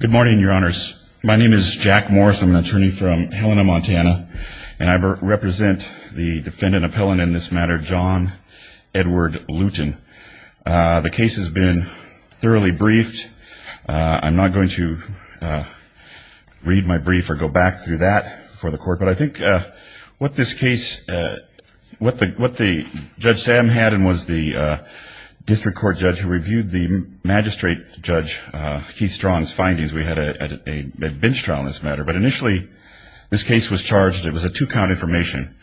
Good morning, your honors. My name is Jack Morris. I'm an attorney from Helena, Montana, and I represent the defendant appellant in this matter, John Edward Lewton. The case has been thoroughly briefed. I'm not going to read my brief or go back through that for the court. But I think what this case, what Judge Sam had and was the district court judge who reviewed the magistrate judge Keith Strong's findings, we had a bench trial in this matter. But initially this case was charged, it was a two-count information.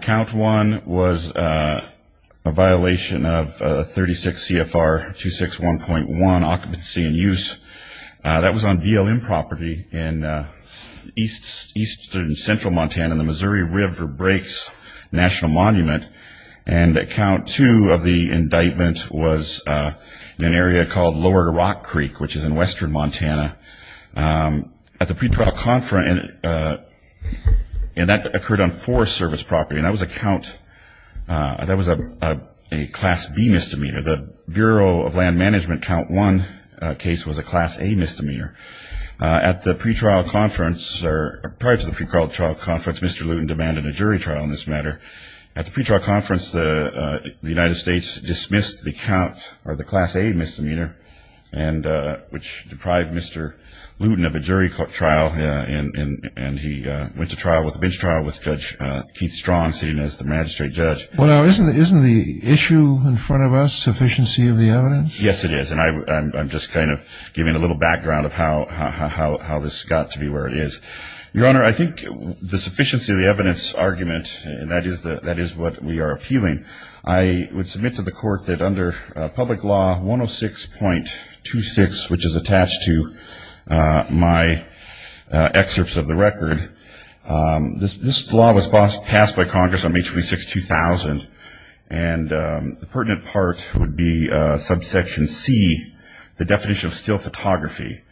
Count one was a violation of 36 CFR 261.1, occupancy and use. That was on BLM property in eastern central Montana, the Missouri River Breaks National Monument. And count two of the indictment was in an area called Lower Rock Creek, which is in western Montana. At the pretrial conference, and that occurred on Forest Service property, and that was a count, that was a class B misdemeanor. The Bureau of Land Management count one case was a class A misdemeanor. At the pretrial conference, or prior to the pretrial conference, Mr. Lewton demanded a jury trial in this matter. At the pretrial conference, the United States dismissed the count, or the class A misdemeanor, which deprived Mr. Lewton of a jury trial. And he went to trial with a bench trial with Judge Keith Strong sitting as the magistrate judge. Isn't the issue in front of us sufficiency of the evidence? Yes, it is. And I'm just kind of giving a little background of how this got to be where it is. Your Honor, I think the sufficiency of the evidence argument, and that is what we are appealing, I would submit to the court that under public law 106.26, which is attached to my excerpts of the record, this law was passed by Congress on May 26, 2000. And the pertinent part would be subsection C, the definition of still photography.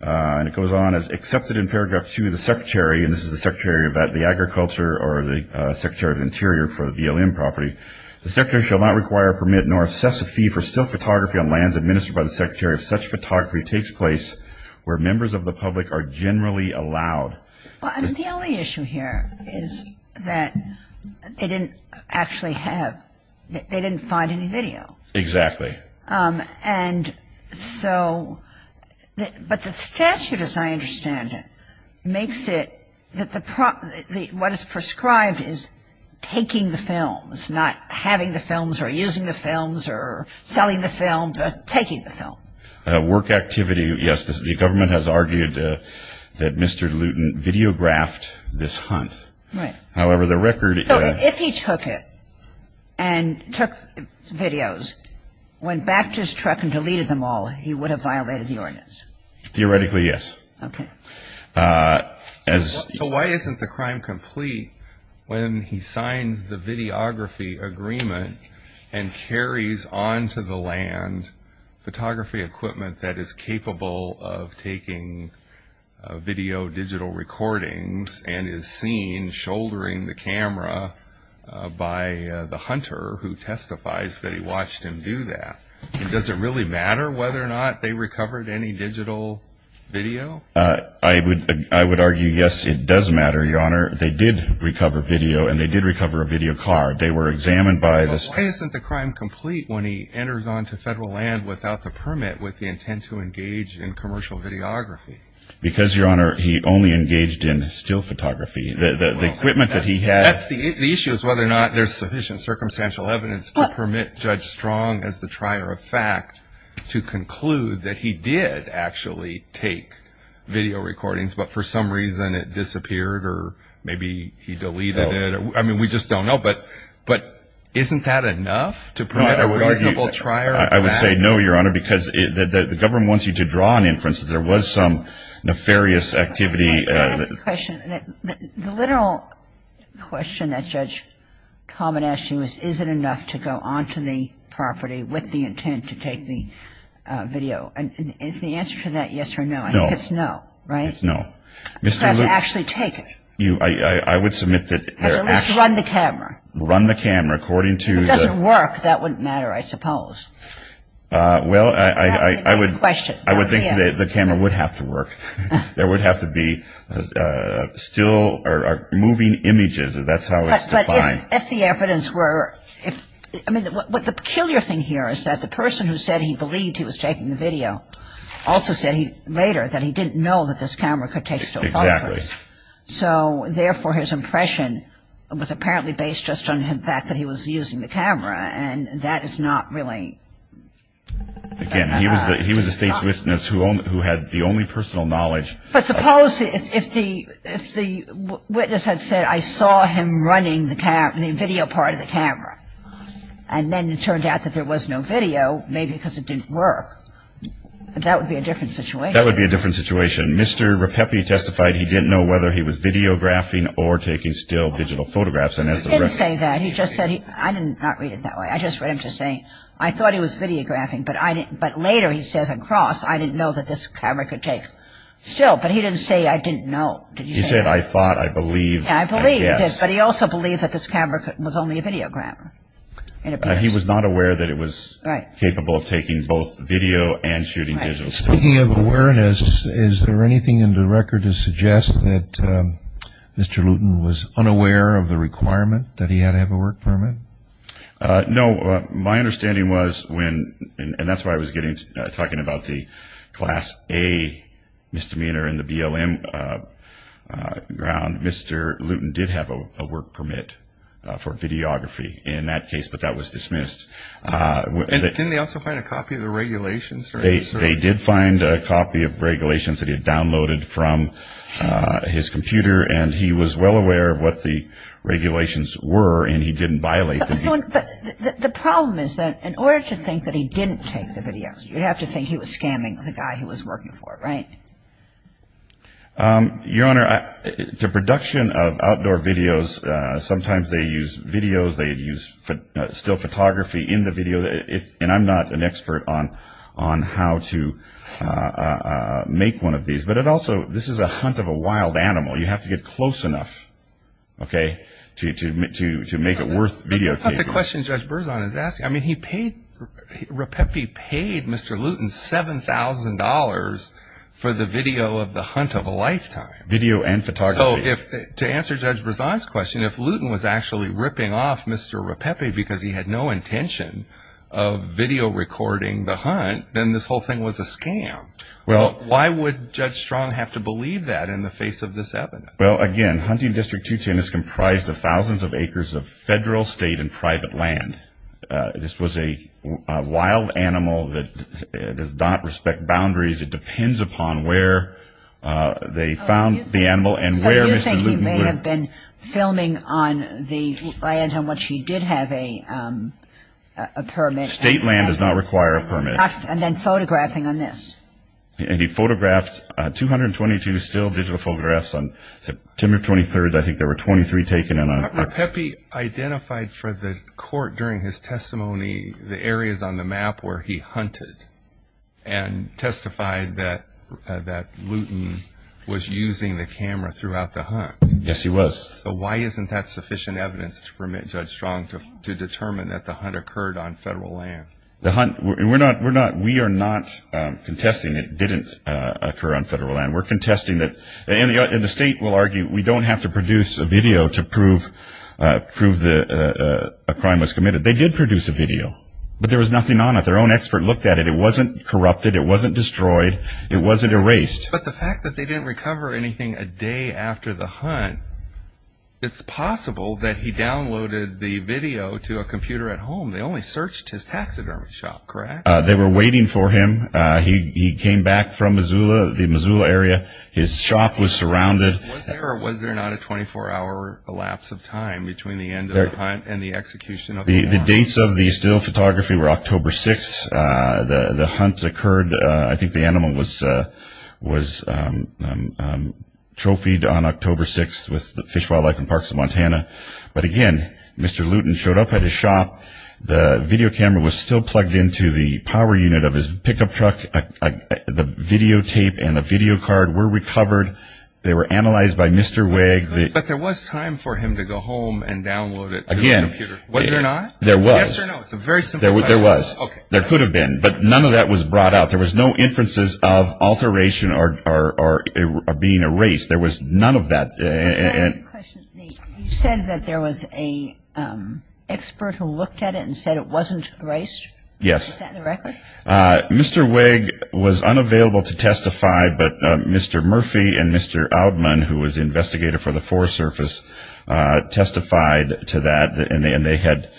And it goes on as accepted in paragraph 2 of the secretary, and this is the secretary of the agriculture or the secretary of the interior for the BLM property. The secretary shall not require a permit nor assess a fee for still photography on lands administered by the secretary if such photography takes place where members of the public are generally allowed. Well, the only issue here is that they didn't actually have, they didn't find any video. Exactly. And so, but the statute, as I understand it, makes it that the, what is prescribed is taking the films, not having the films or using the films or selling the film, but taking the film. Work activity, yes, the government has argued that Mr. Luton videographed this hunt. Right. However, the record. If he took it and took videos, went back to his truck and deleted them all, he would have violated the ordinance. Theoretically, yes. Okay. So why isn't the crime complete when he signs the videography agreement and carries onto the land photography equipment that is capable of taking video digital recordings and is seen shouldering the camera by the hunter who testifies that he watched him do that? Does it really matter whether or not they recovered any digital video? I would argue, yes, it does matter, Your Honor. They did recover video and they did recover a video card. They were examined by the. But why isn't the crime complete when he enters onto federal land without the permit with the intent to engage in commercial videography? Because, Your Honor, he only engaged in still photography. The equipment that he had. The issue is whether or not there's sufficient circumstantial evidence to permit Judge Strong as the trier of fact to conclude that he did actually take video recordings, but for some reason it disappeared or maybe he deleted it. I mean, we just don't know. But isn't that enough to permit a reasonable trier of fact? I would say no, Your Honor, because the government wants you to draw an inference that there was some nefarious activity. Let me ask a question. The literal question that Judge Taubman asked you is, is it enough to go onto the property with the intent to take the video? And is the answer to that yes or no? No. I think it's no, right? It's no. Because he actually took it. I would submit that there actually. At least run the camera. Run the camera according to the. If it were to work, that wouldn't matter, I suppose. Well, I would. That's the question. I would think the camera would have to work. There would have to be still or moving images. That's how it's defined. But if the evidence were. I mean, the peculiar thing here is that the person who said he believed he was taking the video also said later that he didn't know that this camera could take still photography. Exactly. So therefore, his impression was apparently based just on the fact that he was using the camera. And that is not really. Again, he was the State's witness who had the only personal knowledge. But suppose if the witness had said I saw him running the video part of the camera. And then it turned out that there was no video, maybe because it didn't work. That would be a different situation. That would be a different situation. Mr. Rapepi testified he didn't know whether he was videographing or taking still digital photographs. He didn't say that. He just said he. I didn't read it that way. I just read him just saying I thought he was videographing. But later he says across I didn't know that this camera could take still. But he didn't say I didn't know. He said I thought, I believed. I believed. But he also believed that this camera was only a videographer. He was not aware that it was capable of taking both video and shooting digital still. Speaking of awareness, is there anything in the record to suggest that Mr. Luton was unaware of the requirement that he had to have a work permit? No. My understanding was when, and that's why I was talking about the Class A misdemeanor in the BLM ground, Mr. Luton did have a work permit for videography in that case, but that was dismissed. Didn't they also find a copy of the regulations? They did find a copy of regulations that he had downloaded from his computer, and he was well aware of what the regulations were, and he didn't violate them. But the problem is that in order to think that he didn't take the videos, you have to think he was scamming the guy he was working for, right? Your Honor, the production of outdoor videos, sometimes they use videos. Sometimes they use still photography in the video, and I'm not an expert on how to make one of these. But it also, this is a hunt of a wild animal. You have to get close enough, okay, to make it worth videotaping. That's not the question Judge Berzon is asking. I mean, he paid, Rapeppe paid Mr. Luton $7,000 for the video of the hunt of a lifetime. Video and photography. To answer Judge Berzon's question, if Luton was actually ripping off Mr. Rapeppe because he had no intention of video recording the hunt, then this whole thing was a scam. Why would Judge Strong have to believe that in the face of this evidence? Well, again, Hunting District 210 is comprised of thousands of acres of federal, state, and private land. This was a wild animal that does not respect boundaries. It depends upon where they found the animal and where Mr. Luton was. So you think he may have been filming on the land on which he did have a permit. State land does not require a permit. And then photographing on this. And he photographed 222 still digital photographs. On September 23rd, I think there were 23 taken. Rapeppe identified for the court during his testimony the areas on the map where he hunted and testified that Luton was using the camera throughout the hunt. Yes, he was. So why isn't that sufficient evidence to permit Judge Strong to determine that the hunt occurred on federal land? The hunt, we are not contesting it didn't occur on federal land. We're contesting that, and the state will argue, we don't have to produce a video to prove a crime was committed. They did produce a video, but there was nothing on it. Their own expert looked at it. It wasn't corrupted. It wasn't destroyed. It wasn't erased. But the fact that they didn't recover anything a day after the hunt, it's possible that he downloaded the video to a computer at home. They only searched his taxidermy shop, correct? They were waiting for him. He came back from Missoula, the Missoula area. His shop was surrounded. Was there or was there not a 24-hour lapse of time between the end of the hunt and the execution of the hunt? The dates of the still photography were October 6th. The hunt occurred. I think the animal was trophied on October 6th with the Fish, Wildlife, and Parks of Montana. But, again, Mr. Luton showed up at his shop. The video camera was still plugged into the power unit of his pickup truck. The videotape and the video card were recovered. They were analyzed by Mr. Wegg. But there was time for him to go home and download it to his computer. Was there not? There was. Yes or no? It's a very simple question. There was. Okay. There could have been. But none of that was brought out. There was no inferences of alteration or being erased. There was none of that. Can I ask a question, Nate? You said that there was an expert who looked at it and said it wasn't erased? Yes. Is that the record? Mr. Wegg was unavailable to testify, but Mr. Murphy and Mr. Oudman, who was the investigator for the force surface, testified to that, and they had,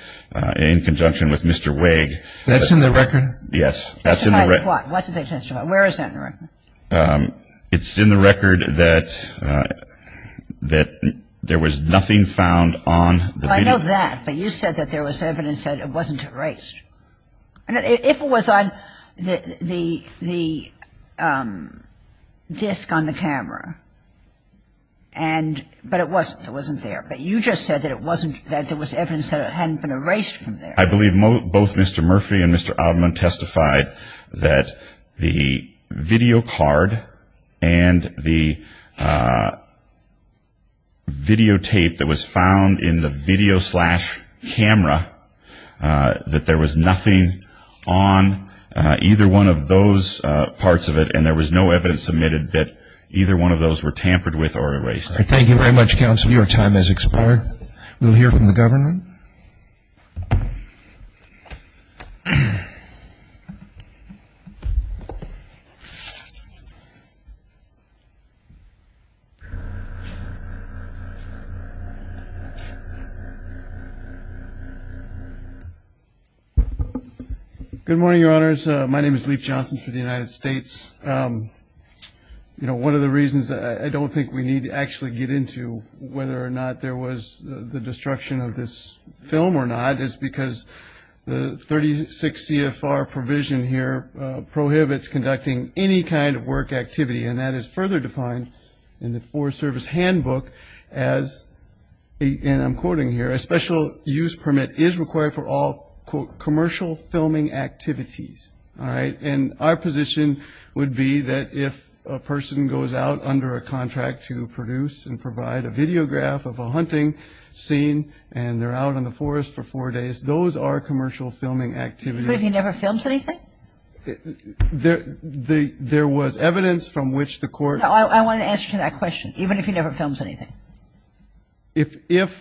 in conjunction with Mr. Wegg. That's in the record? Yes. What did they testify? Where is that in the record? It's in the record that there was nothing found on the video. I know that, but you said that there was evidence that it wasn't erased. If it was on the disc on the camera, and, but it wasn't. It wasn't there. But you just said that it wasn't, that there was evidence that it hadn't been erased from there. I believe both Mr. Murphy and Mr. Oudman testified that the video card and the on either one of those parts of it, and there was no evidence submitted that either one of those were tampered with or erased. All right. Thank you very much, counsel. Your time has expired. We'll hear from the governor. Good morning, Your Honors. My name is Leif Johnson for the United States. You know, one of the reasons I don't think we need to actually get into whether or not there was the destruction of this film or not is because the 36 CFR provision here prohibits conducting any kind of work activity, and that is further defined in the Forest Service handbook as, and I'm quoting here, a special use permit is required for all, quote, commercial filming activities. All right. And our position would be that if a person goes out under a contract to produce and provide a videograph of a hunting scene and they're out in the forest for four days, those are commercial filming activities. But if he never films anything? There was evidence from which the court No, I want to ask you that question. Even if he never films anything? If the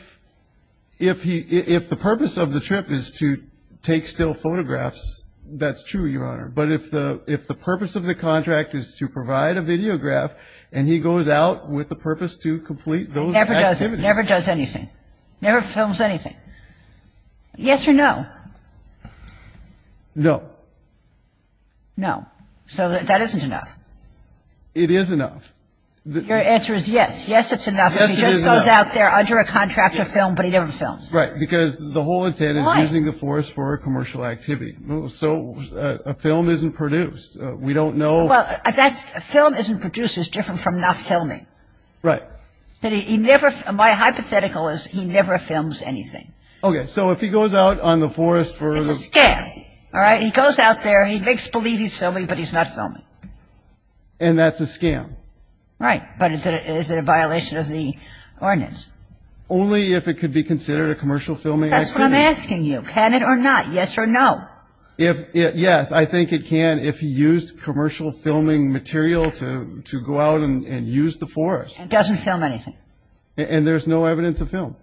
purpose of the trip is to take still photographs, that's true, Your Honor. But if the purpose of the contract is to provide a videograph and he goes out with the intent to complete those activities? Never does anything. Never films anything. Yes or no? No. No. So that isn't enough. It is enough. Your answer is yes. Yes, it's enough. Yes, it is enough. If he just goes out there under a contract to film, but he never films. Right, because the whole intent is using the forest for a commercial activity. So a film isn't produced. We don't know. Well, a film isn't produced is different from not filming. Right. My hypothetical is he never films anything. Okay. So if he goes out on the forest for the It's a scam. All right? He goes out there, he makes believe he's filming, but he's not filming. And that's a scam. Right. But is it a violation of the ordinance? Only if it could be considered a commercial filming activity. That's what I'm asking you. Can it or not? Yes or no? Yes. I think it can if he used commercial filming material to go out and use the forest. And doesn't film anything. And there's no evidence of film.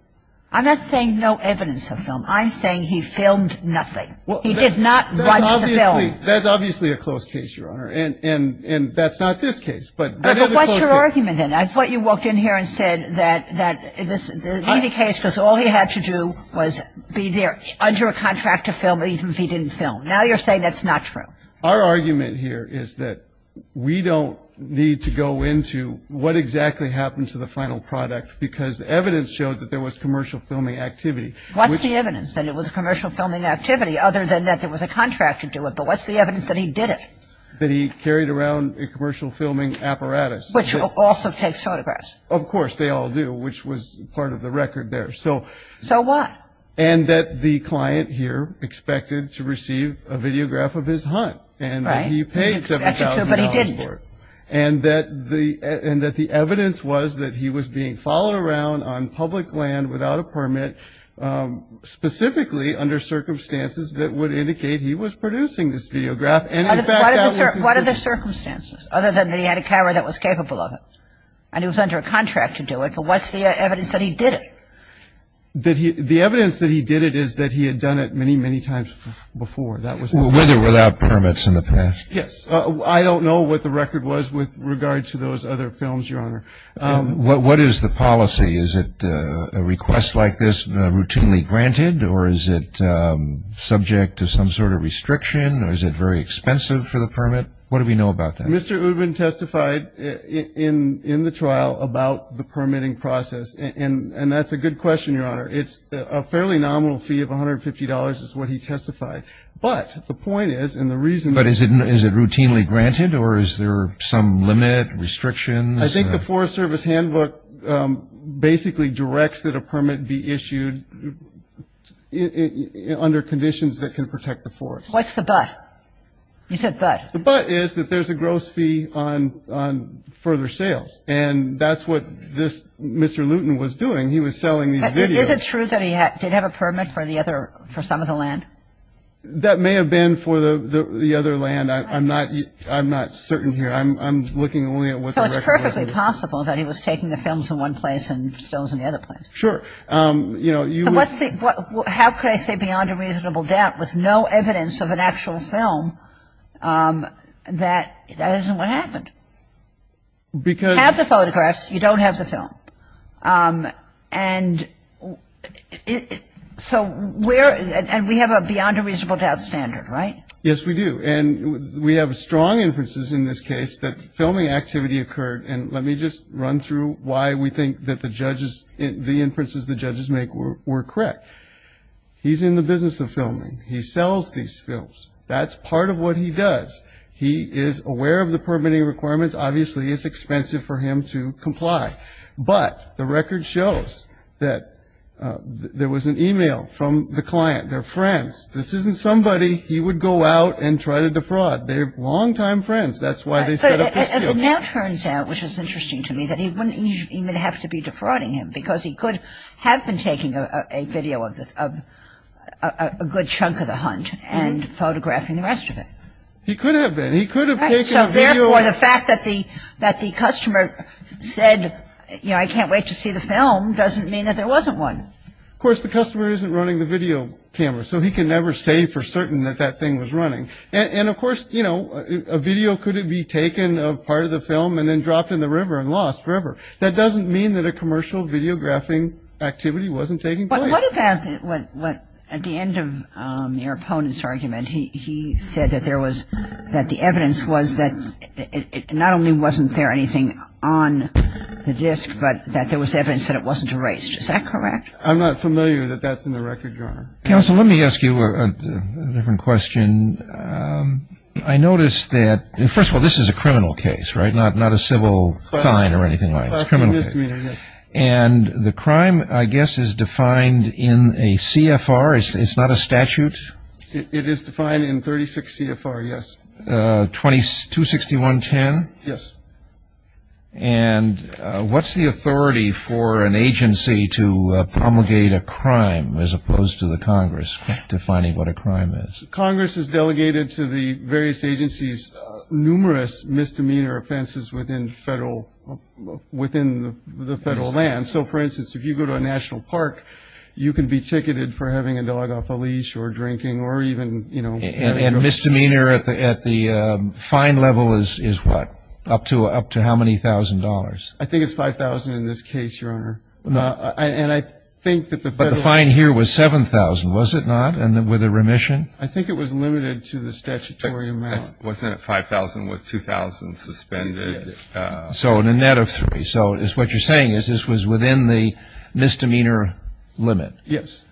I'm not saying no evidence of film. I'm saying he filmed nothing. He did not run the film. That's obviously a close case, Your Honor. And that's not this case, but that is a close case. But what's your argument then? I thought you walked in here and said that this would be the case because all he had to do was be there under a contract to film, even if he didn't film. Now you're saying that's not true. Our argument here is that we don't need to go into what exactly happened to the final product because the evidence showed that there was commercial filming activity. What's the evidence that it was a commercial filming activity other than that there was a contract to do it? But what's the evidence that he did it? That he carried around a commercial filming apparatus. Which also takes photographs. Of course, they all do, which was part of the record there. So what? And that the client here expected to receive a videograph of his hunt. Right. And that he paid $7,000 for it. But he didn't. And that the evidence was that he was being followed around on public land without a permit, specifically under circumstances that would indicate he was producing this videograph. And, in fact, that was his business. What are the circumstances other than that he had a camera that was capable of it? And he was under a contract to do it. But what's the evidence that he did it? The evidence that he did it is that he had done it many, many times before. That was his business. With or without permits in the past? Yes. I don't know what the record was with regard to those other films, Your Honor. What is the policy? Is it a request like this routinely granted? Or is it subject to some sort of restriction? Or is it very expensive for the permit? What do we know about that? Well, Mr. Ubin testified in the trial about the permitting process. And that's a good question, Your Honor. It's a fairly nominal fee of $150 is what he testified. But the point is and the reason is. But is it routinely granted? Or is there some limit, restrictions? I think the Forest Service handbook basically directs that a permit be issued under conditions that can protect the forest. What's the but? You said but. The but is that there's a gross fee on further sales. And that's what this Mr. Luton was doing. He was selling these videos. Is it true that he did have a permit for some of the land? That may have been for the other land. I'm not certain here. I'm looking only at what the record is. So it's perfectly possible that he was taking the films in one place and stills in the other place. Sure. You know, you would. Well, how could I say beyond a reasonable doubt with no evidence of an actual film that that isn't what happened? Because. You have the photographs. You don't have the film. And so where and we have a beyond a reasonable doubt standard, right? Yes, we do. And we have strong inferences in this case that filming activity occurred. And let me just run through why we think that the judges, the inferences the judges make were correct. He's in the business of filming. He sells these films. That's part of what he does. He is aware of the permitting requirements. Obviously, it's expensive for him to comply. But the record shows that there was an e-mail from the client. They're friends. This isn't somebody he would go out and try to defraud. They're longtime friends. That's why they set up this deal. It now turns out, which is interesting to me, that he wouldn't even have to be defrauding him because he could have been taking a video of a good chunk of the hunt and photographing the rest of it. He could have been. He could have taken a video. So, therefore, the fact that the customer said, you know, I can't wait to see the film doesn't mean that there wasn't one. Of course, the customer isn't running the video camera. So he can never say for certain that that thing was running. And, of course, you know, a video couldn't be taken of part of the film and then dropped in the river and lost forever. That doesn't mean that a commercial videographing activity wasn't taking place. But what about what at the end of your opponent's argument, he said that there was that the evidence was that not only wasn't there anything on the disc, but that there was evidence that it wasn't erased. Is that correct? Counsel, let me ask you a different question. I noticed that, first of all, this is a criminal case, right, not a civil fine or anything like that. And the crime, I guess, is defined in a CFR. It's not a statute. It is defined in 36 CFR, yes. 26110? Yes. And what's the authority for an agency to promulgate a crime as opposed to the Congress defining what a crime is? Congress has delegated to the various agencies numerous misdemeanor offenses within the federal land. So, for instance, if you go to a national park, you can be ticketed for having a dog off a leash or drinking or even, you know. And misdemeanor at the fine level is what? Up to how many thousand dollars? I think it's $5,000 in this case, Your Honor. And I think that the federal. But the fine here was $7,000, was it not, and with a remission? I think it was limited to the statutory amount. Wasn't it $5,000 with $2,000 suspended? Yes. So in a net of three. So what you're saying is this was within the misdemeanor limit. Yes.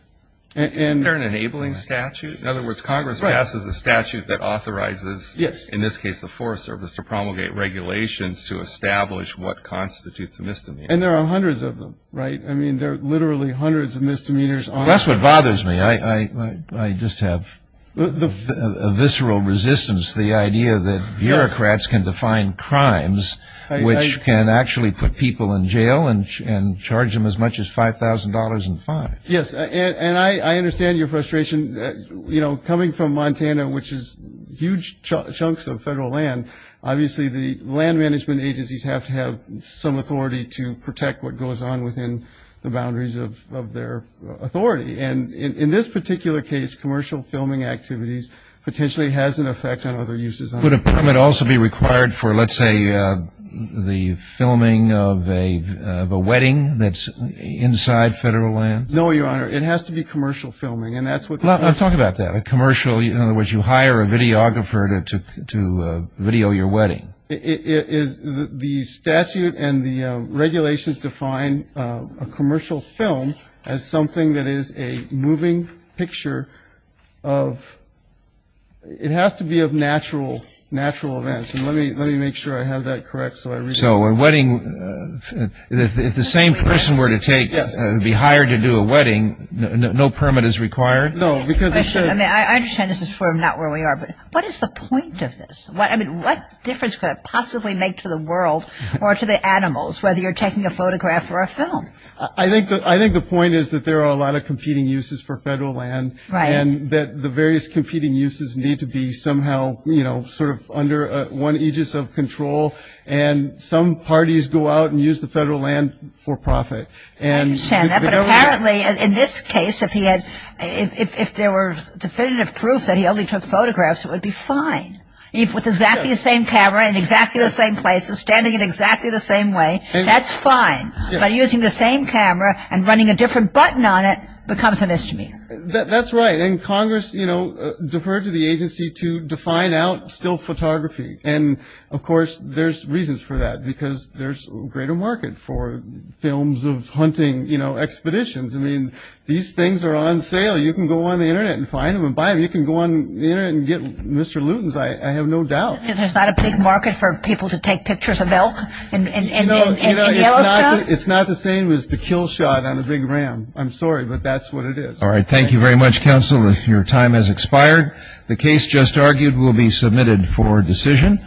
Isn't there an enabling statute? In other words, Congress passes a statute that authorizes, in this case the Forest Service, to promulgate regulations to establish what constitutes a misdemeanor. And there are hundreds of them, right? I mean, there are literally hundreds of misdemeanors. That's what bothers me. I just have a visceral resistance to the idea that bureaucrats can define crimes, which can actually put people in jail and charge them as much as $5,000 in fines. Yes. And I understand your frustration. You know, coming from Montana, which is huge chunks of federal land, obviously the land management agencies have to have some authority to protect what goes on within the boundaries of their authority. And in this particular case, commercial filming activities potentially has an effect on other uses. Would a permit also be required for, let's say, the filming of a wedding that's inside federal land? No, Your Honor. It has to be commercial filming. And that's what the statute says. Well, talk about that. A commercial, in other words, you hire a videographer to video your wedding. The statute and the regulations define a commercial film as something that is a moving picture of, it has to be of natural events. And let me make sure I have that correct. So a wedding, if the same person were to take, be hired to do a wedding, no permit is required? No. I understand this is for not where we are, but what is the point of this? What difference could it possibly make to the world or to the animals, whether you're taking a photograph or a film? I think the point is that there are a lot of competing uses for federal land. Right. And that the various competing uses need to be somehow, you know, sort of under one aegis of control, and some parties go out and use the federal land for profit. I understand that. But apparently in this case, if there were definitive proofs that he only took photographs, it would be fine. If with exactly the same camera in exactly the same places, standing in exactly the same way, that's fine. But using the same camera and running a different button on it becomes a misdemeanor. That's right. And Congress, you know, deferred to the agency to define out still photography. And, of course, there's reasons for that because there's a greater market for films of hunting, you know, expeditions. I mean, these things are on sale. You can go on the Internet and find them and buy them. You can go on the Internet and get Mr. Lewton's, I have no doubt. There's not a big market for people to take pictures of elk in Yellowstone? It's not the same as the kill shot on a big ram. I'm sorry, but that's what it is. All right. Thank you very much, counsel. Your time has expired. The case just argued will be submitted for decision.